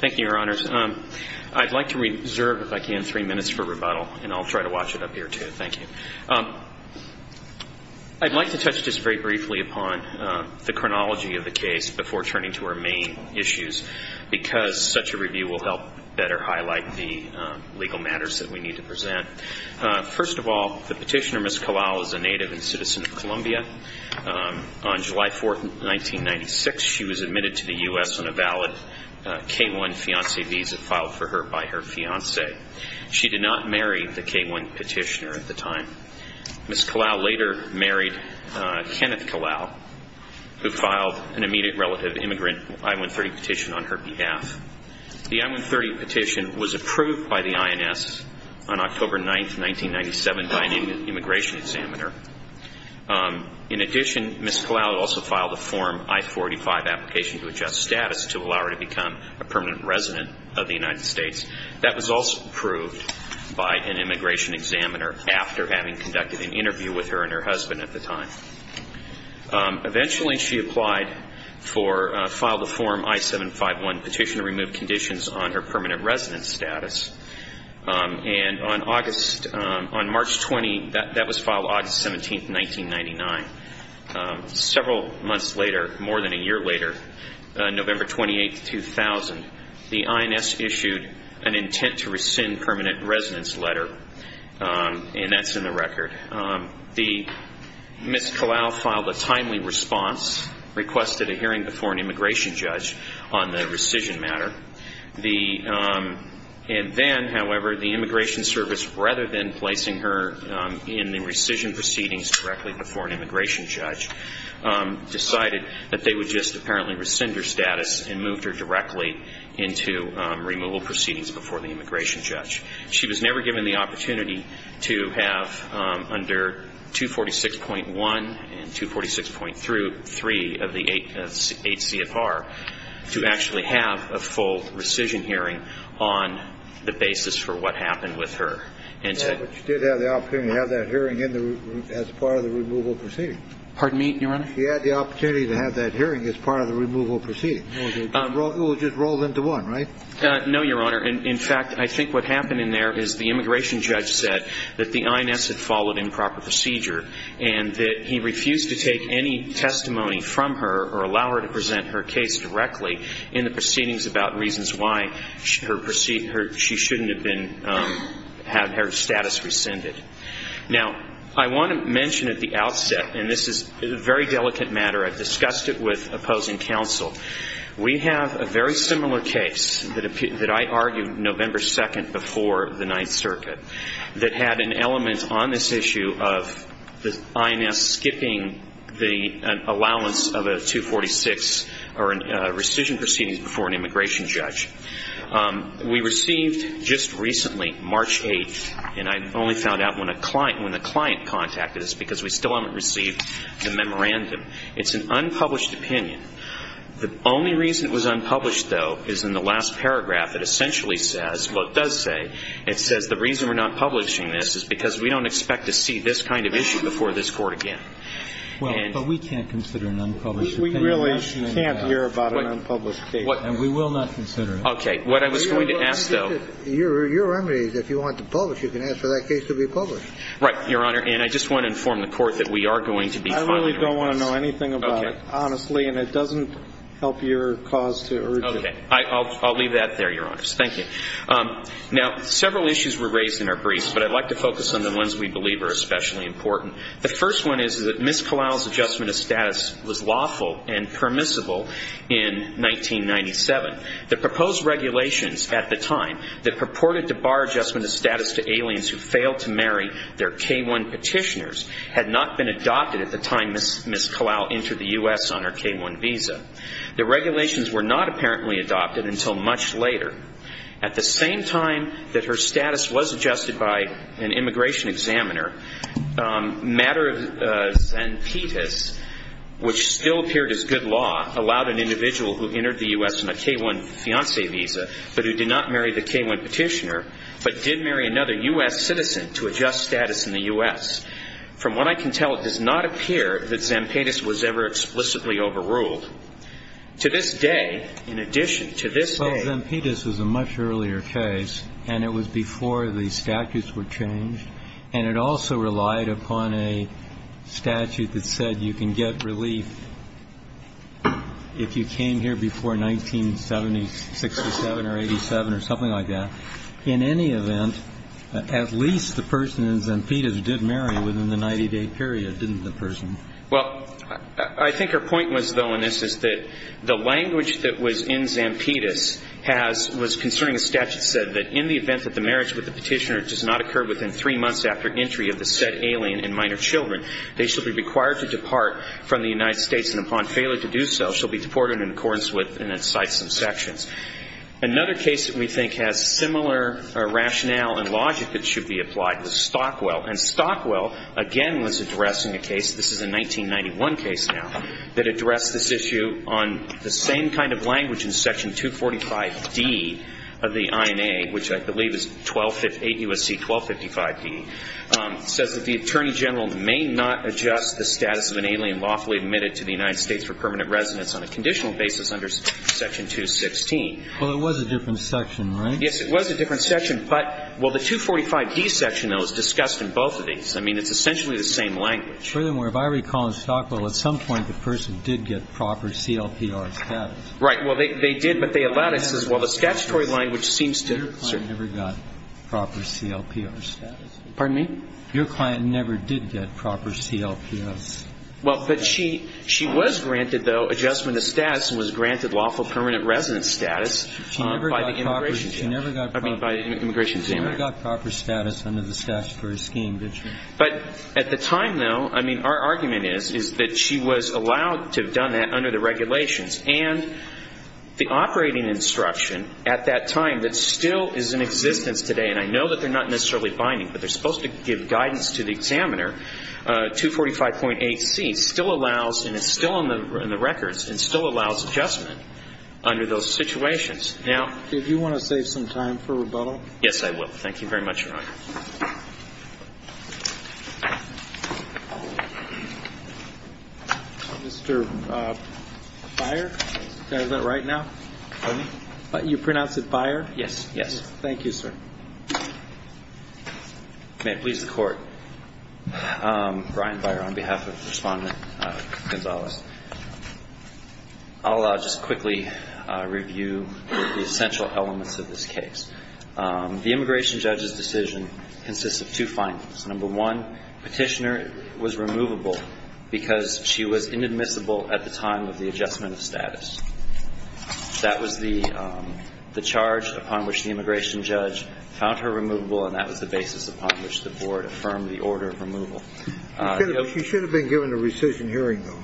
Thank you, Your Honors. I'd like to reserve, if I can, three minutes for rebuttal, and I'll try to watch it up here, too. Thank you. I'd like to touch just very briefly upon the chronology of the case before turning to our main issues, because such a review will help better highlight the legal matters that we need to present. First of all, the petitioner, Ms. Kalal, is a native and citizen of Columbia. On July 4, 1996, she was admitted to the US on a valid K-1 fiancé visa filed for her by her fiancé. She did not marry the K-1 petitioner at the time. Ms. Kalal later married Kenneth Kalal, who filed an immediate relative immigrant I-130 petition on her behalf. The I-130 petition was approved by the INS on October 9, 1997 by an immigration examiner. In addition, Ms. Kalal also filed a Form I-45 application to adjust status to allow her to become a permanent resident of the United States. That was also approved by an immigration examiner after having conducted an interview with her and her husband at the time. Eventually, she applied for a file to form I-751 petition to remove conditions on her permanent resident status. And on March 20, that was filed August 17, 1999. Several months later, more than a year later, November 28, 2000, the INS issued an intent to rescind permanent residence letter. And that's in the record. Ms. Kalal filed a timely response, requested a hearing before an immigration judge on the rescission matter. And then, however, the Immigration Service, rather than placing her in the rescission proceedings directly before an immigration judge, decided that they would just apparently rescind her status and moved her directly into removal proceedings before the immigration judge. She was never given the opportunity to have under 246.1 and 246.3 of the eight CFR to actually have a full rescission hearing on the basis for what happened with her. But you did have the opportunity to have that hearing as part of the removal proceedings. Pardon me, Your Honor? You had the opportunity to have that hearing as part of the removal proceedings. It was just rolled into one, right? No, Your Honor. And in fact, I think what happened in there is the immigration judge said that the INS had followed improper procedure and that he refused to take any testimony from her or allow her to present her case directly in the proceedings about reasons why she shouldn't have her status rescinded. Now, I want to mention at the outset, and this is a very delicate matter. I've discussed it with opposing counsel. We have a very similar case that I argued November 2 before the Ninth Circuit that had an element on this issue of the INS skipping the allowance of a 246 or rescission proceedings before an immigration judge. We received just recently, March 8, and I only found out when the client contacted us because we still haven't received the memorandum. It's an unpublished opinion. The only reason it was unpublished, though, is in the last paragraph. It essentially says, well, it does say, it says the reason we're not publishing this is because we don't expect to see this kind of issue before this Court again. Well, but we can't consider an unpublished opinion. We really can't hear about an unpublished case. And we will not consider it. OK. What I was going to ask, though. Your remedy is if you want to publish, you can ask for that case to be published. Right, Your Honor. And I just want to inform the Court that we are going to be finally doing this. I really don't want to know anything about it, honestly. And it doesn't help your cause to urge it. I'll leave that there, Your Honors. Thank you. Now, several issues were raised in our briefs, but I'd like to focus on the ones we believe are especially important. The first one is that Ms. Kalau's adjustment of status was lawful and permissible in 1997. The proposed regulations at the time that purported to bar adjustment of status to aliens who failed to marry their K-1 petitioners had not been adopted at the time Ms. Kalau entered the US on her K-1 visa. The regulations were not apparently adopted until much later. At the same time that her status was adjusted by an immigration examiner, mater zantitis, which still appeared as good law, allowed an individual who entered the US on a K-1 fiance visa, but who did not marry the K-1 petitioner, but did marry another US citizen, to adjust status in the US. From what I can tell, it does not appear that zantitis was ever explicitly overruled. To this day, in addition to this day- Well, zantitis was a much earlier case, and it was before the statutes were changed. And it also relied upon a statute that said you can get relief if you came here before 1967 or 87, or something like that. In any event, at least the person in zantitis did marry within the 90-day period, didn't the person? Well, I think her point was, though, in this is that the language that was in zantitis was concerning a statute that said that in the event that the marriage with the petitioner does not occur within three months after entry of the said alien and minor children, they should be required to depart from the United States. And upon failure to do so, she'll be deported in accordance with, and it cites some sections. Another case that we think has similar rationale and logic that should be applied was Stockwell. And Stockwell, again, was addressing a case, this is a 1991 case now, that addressed this issue on the same kind of language in section 245-D of the INA, which I believe is 8 U.S.C. 1255-D, says that the attorney general may not adjust the status of an alien lawfully admitted to the United States for permanent residence on a conditional basis under section 216. Well, it was a different section, right? Yes, it was a different section. But, well, the 245-D section, though, is discussed in both of these. I mean, it's essentially the same language. Furthermore, if I recall in Stockwell, at some point the person did get proper CLPR status. Right, well, they did, but they allowed it. It says, well, the statutory language seems to have never got proper CLPR status. Pardon me? Your client never did get proper CLPS. Well, but she was granted, though, adjustment of status and was granted lawful permanent residence status by the immigration team. I mean, by the immigration team. She never got proper status under the statutory scheme, did she? But at the time, though, I mean, our argument is that she was allowed to have done that under the regulations. And the operating instruction at that time that still is in existence today, and I know that they're not necessarily binding, but they're supposed to give guidance to the examiner, 245.8c still allows, and it's still in the records, and still allows adjustment under those situations. Now, if you want to save some time for rebuttal. Yes, I will. Thank you very much, Your Honor. Mr. Byer, can I have that right now? Pardon me? You pronounce it Byer? Yes, yes. Thank you, sir. May it please the Court. Brian Byer on behalf of Respondent Gonzalez. I'll just quickly review the essential elements of this case. The immigration judge's decision consists of two findings. Number one, petitioner was removable because she was inadmissible at the time of the adjustment of status. That was the charge upon which the immigration judge found her removable, and that was the basis upon which the board affirmed the order of removal. She should have been given a rescission hearing, though.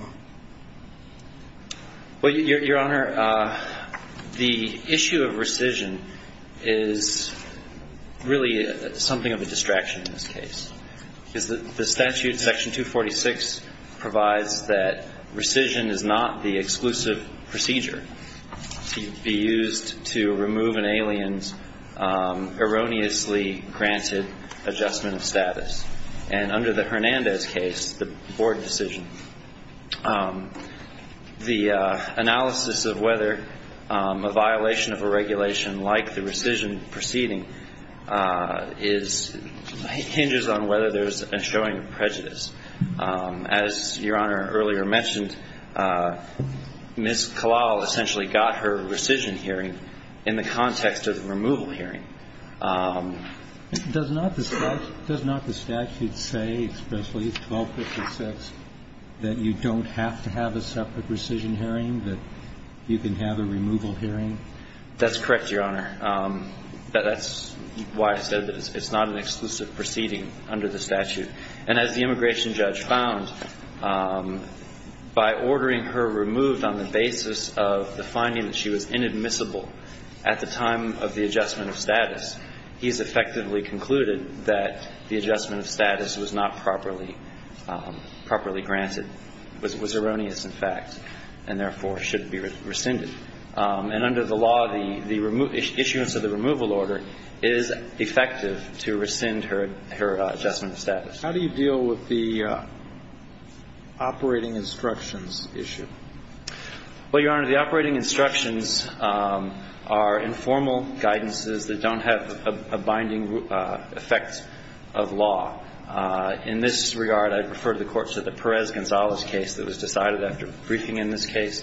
Well, Your Honor, the issue of rescission is really something of a distraction in this case. The statute, section 246, provides that rescission is not the exclusive procedure to be used to remove an alien's erroneously granted adjustment of status. And under the Hernandez case, the board decision, the analysis of whether a violation of a regulation like the rescission proceeding hinges on whether there is a showing of prejudice. As Your Honor earlier mentioned, Ms. Kalal essentially got her rescission hearing in the context of removal hearing. Does not the statute say, especially 1256, that you don't have to have a separate rescission hearing, that you can have a removal hearing? That's correct, Your Honor. That's why I said that it's not an exclusive proceeding under the statute. And as the immigration judge found, by ordering her removed on the basis of the finding that she was inadmissible at the time of the adjustment of status, he's effectively concluded that the adjustment of status was not properly granted, was erroneous in fact, and therefore should be rescinded. And under the law, the issuance of the removal order is effective to rescind her adjustment of status. How do you deal with the operating instructions issue? Well, Your Honor, the operating instructions are informal guidances that don't have a binding effect of law. In this regard, I'd refer the court to the Perez-Gonzalez case that was decided after briefing in this case.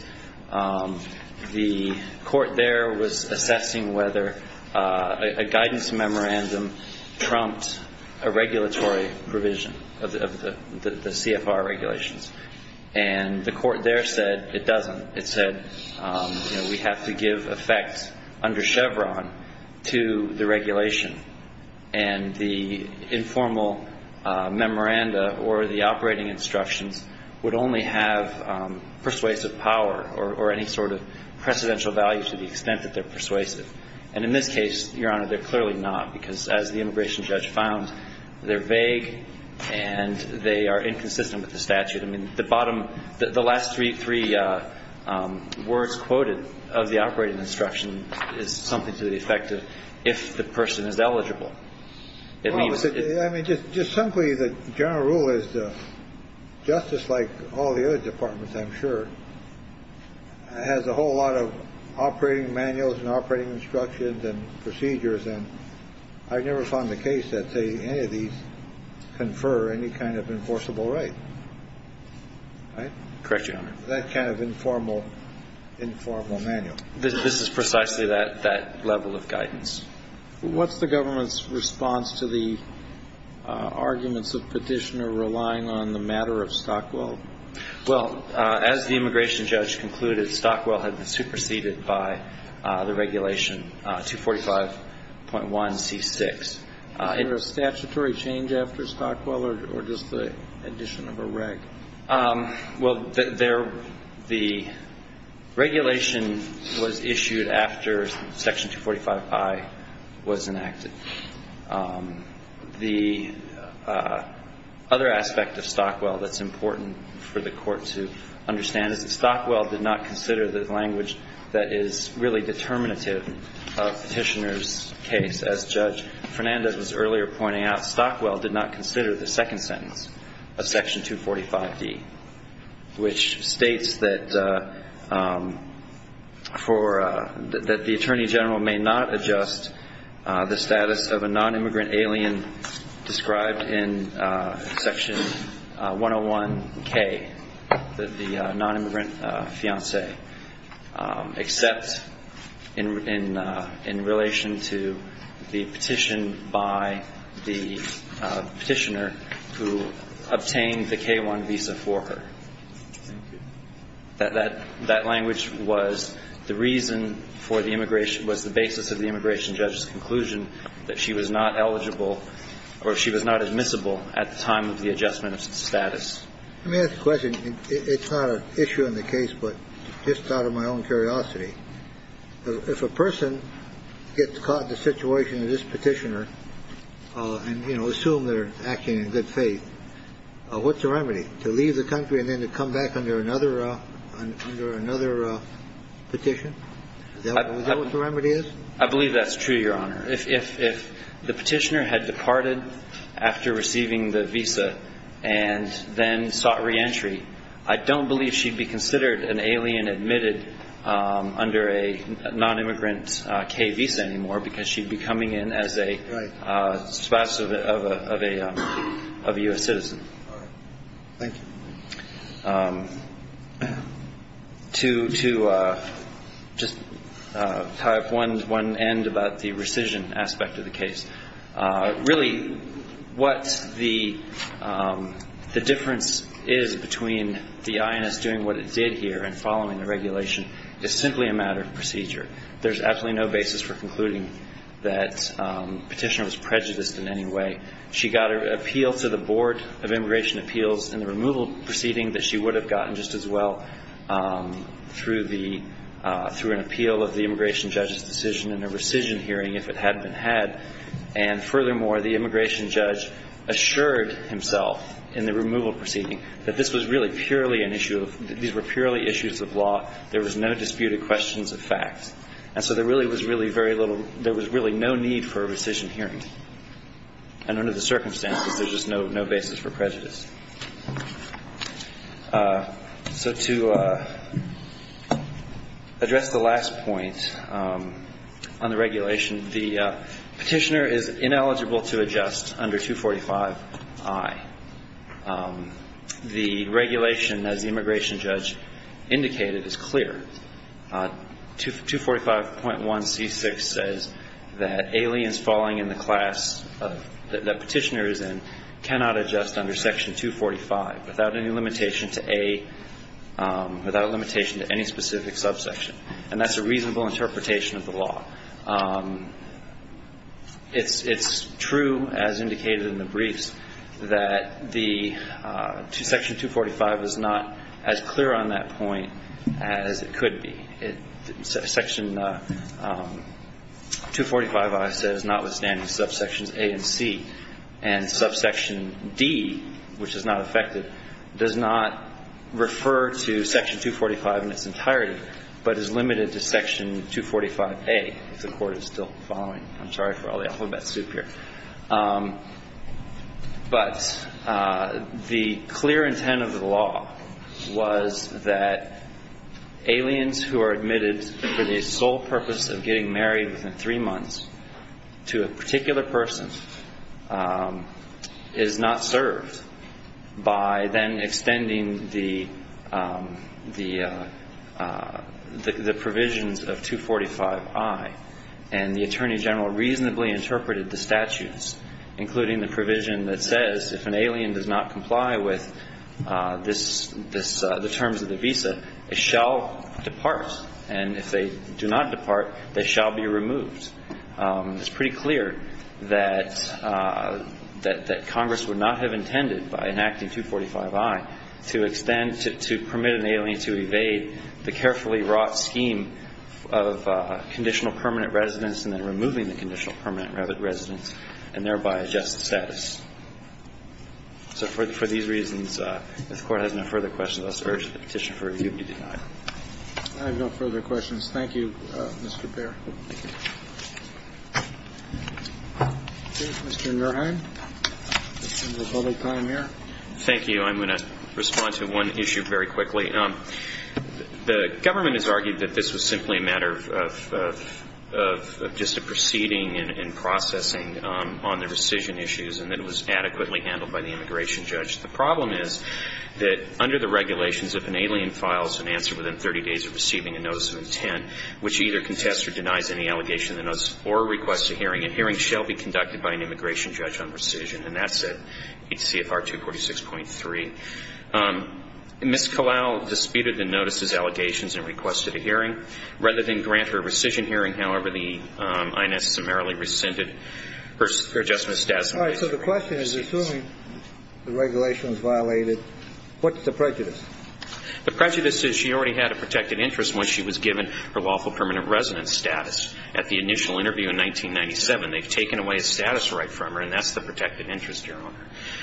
The court there was assessing whether a guidance memorandum trumped a regulatory provision of the CFR regulations. And the court there said it doesn't. It said we have to give effect under Chevron to the regulation. And the informal memoranda or the operating instructions would only have persuasive power or any sort of precedential value to the extent that they're persuasive. And in this case, Your Honor, they're clearly not, because as the immigration judge found, they're vague and they are inconsistent with the statute. I mean, the bottom, the last three words quoted of the operating instruction is something to the effect of if the person is eligible. Well, I mean, just simply, the general rule is justice, like all the other departments, I'm sure, has a whole lot of operating manuals and operating instructions and procedures. And I've never found the case that, say, any of these confer any kind of enforceable right, right? Correct, Your Honor. That kind of informal manual. This is precisely that level of guidance. What's the government's response to the arguments of petitioner relying on the matter of Stockwell? Well, as the immigration judge concluded, Stockwell had been superseded by the regulation 245.1c6. Was there a statutory change after Stockwell or just the addition of a reg? Well, the regulation was issued after Section 245i was enacted. The other aspect of Stockwell that's important for the court to understand is that Stockwell did not consider the language that is really determinative of petitioner's case. As Judge Fernandez was earlier pointing out, Stockwell did not consider the second sentence of Section 245d, which states that the attorney general may not adjust the status of a non-immigrant alien described in Section 101k, the non-immigrant fiance, except in relation to the petition by the petitioner who obtained the K-1 visa for her. That language was the reason for the immigration was the basis of the immigration judge's conclusion that she was not eligible or she was not admissible at the time of the adjustment of status. Let me ask a question. It's not an issue in the case, but just out of my own curiosity, if a person gets caught in the situation of this petitioner and assume they're acting in good faith, what's the remedy? To leave the country and then to come back under another petition? Is that what the remedy is? I believe that's true, Your Honor. If the petitioner had departed after receiving the visa and then sought reentry, I don't believe she'd be considered an alien admitted under a non-immigrant K visa anymore, because she'd be coming in as a spouse of a US citizen. To just tie up one end about the rescission aspect of the case, really what the difference is between the INS doing what it did here and following the regulation is simply a matter of procedure. There's absolutely no basis for concluding that the petitioner was prejudiced in any way. She got an appeal to the Board of Immigration Appeals in the removal proceeding that she would have gotten just as well through an appeal of the immigration judge's decision in a rescission hearing if it hadn't been had. And furthermore, the immigration judge assured himself in the removal proceeding that these were purely issues of law. There was no disputed questions of facts. And so there was really no need for a rescission hearing. And under the circumstances, there's just no basis for prejudice. So to address the last point on the regulation, the petitioner is ineligible to adjust under 245I. The regulation, as the immigration judge indicated, is clear. 245.1c6 says that aliens falling in the class that the petitioner is in cannot adjust under Section 245. Without any limitation to any specific subsection. And that's a reasonable interpretation of the law. It's true, as indicated in the briefs, that Section 245 is not as clear on that point as it could be. Section 245I says, notwithstanding subsections A and C, and subsection D, which is not affected, does not refer to Section 245 in its entirety, but is limited to Section 245A, if the court is still following. I'm sorry for all the alphabet soup here. But the clear intent of the law was that aliens who are admitted for the sole purpose of getting married within three months to a particular person is not served by then extending the provisions of 245I. And the attorney general reasonably interpreted the statutes, including the provision that says, if an alien does not comply with the terms of the visa, it shall depart. And if they do not depart, they shall be removed. It's pretty clear that Congress would not have intended, by enacting 245I, to extend, to permit an alien to evade the carefully wrought scheme of conditional permanent residence and then removing the conditional permanent residence and thereby adjust the status. So for these reasons, if the Court has no further questions, I'll just urge the petition for review to be denied. I have no further questions. Thank you, Mr. Bair. Mr. Nurheim, we have a little time here. Thank you. I'm going to respond to one issue very quickly. The government has argued that this was simply a matter of just a proceeding and processing on the rescission issues and that it was adequately handled by the immigration judge. The problem is that under the regulations, if an alien files an answer within 30 days of receiving a notice of intent, which either contests or denies any allegation in the notice or requests a hearing, a hearing shall be conducted by an immigration judge on rescission. And that's at HCFR 246.3. Ms. Kalau disputed the notices, allegations, and requested a hearing. Rather than grant her a rescission hearing, however, the INS summarily rescinded her adjustment of status in the case. So the question is, assuming the regulation was violated, what's the prejudice? The prejudice is she already had a protected interest when she was given her lawful permanent residence status. At the initial interview in 1997, they've taken away a status right from her, and that's the protected interest, Your Honor.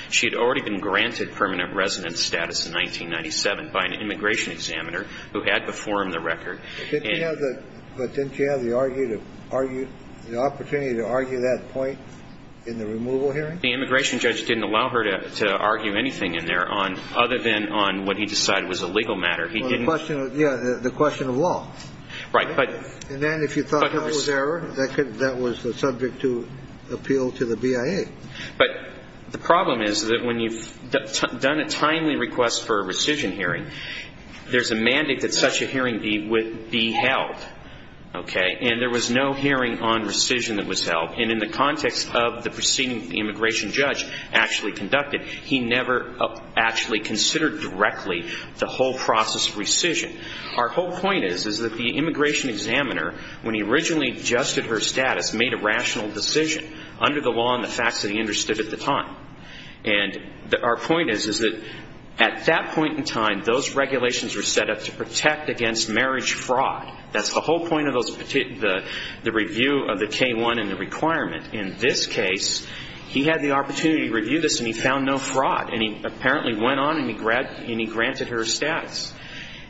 She had already been granted permanent residence status in 1997 by an immigration examiner who had before him the record. But didn't she have the opportunity to argue that point in the removal hearing? The immigration judge didn't allow her to argue anything in there other than on what he decided was a legal matter. He didn't. Yeah, the question of law. Right. And then if you thought that was error, that was subject to appeal to the BIA. But the problem is that when you've done a timely request for a rescission hearing, there's a mandate that such a hearing be held, OK? And there was no hearing on rescission that was held. And in the context of the proceeding that the immigration judge actually conducted, he never actually considered directly the whole process of rescission. Our whole point is that the immigration examiner, when he originally adjusted her status, made a rational decision under the law and the facts that he understood at the time. And our point is that at that point in time, those regulations were set up to protect against marriage fraud. That's the whole point of the review of the K-1 and the requirement. In this case, he had the opportunity to review this, and he found no fraud. And he apparently went on and he granted her status.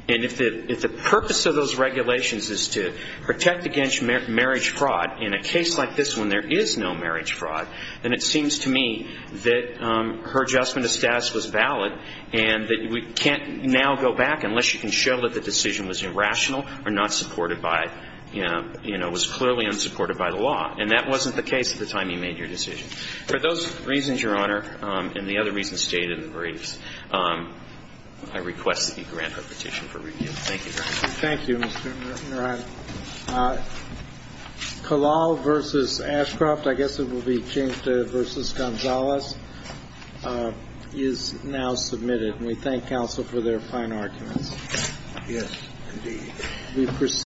And if the purpose of those regulations is to protect against marriage fraud in a case like this when there is no marriage fraud, then it seems to me that her adjustment of status was valid and that we can't now go back unless you can show that the decision was irrational or was clearly unsupported by the law. And that wasn't the case at the time he made your decision. For those reasons, Your Honor, and the other reasons stated in the briefs, I request that you grant our petition for review. Thank you, Your Honor. Thank you, Mr. Norton. Your Honor, Kalal v. Ashcroft, I guess it will be changed to v. Gonzalez, is now submitted. And we thank counsel for their fine arguments. Yes, indeed.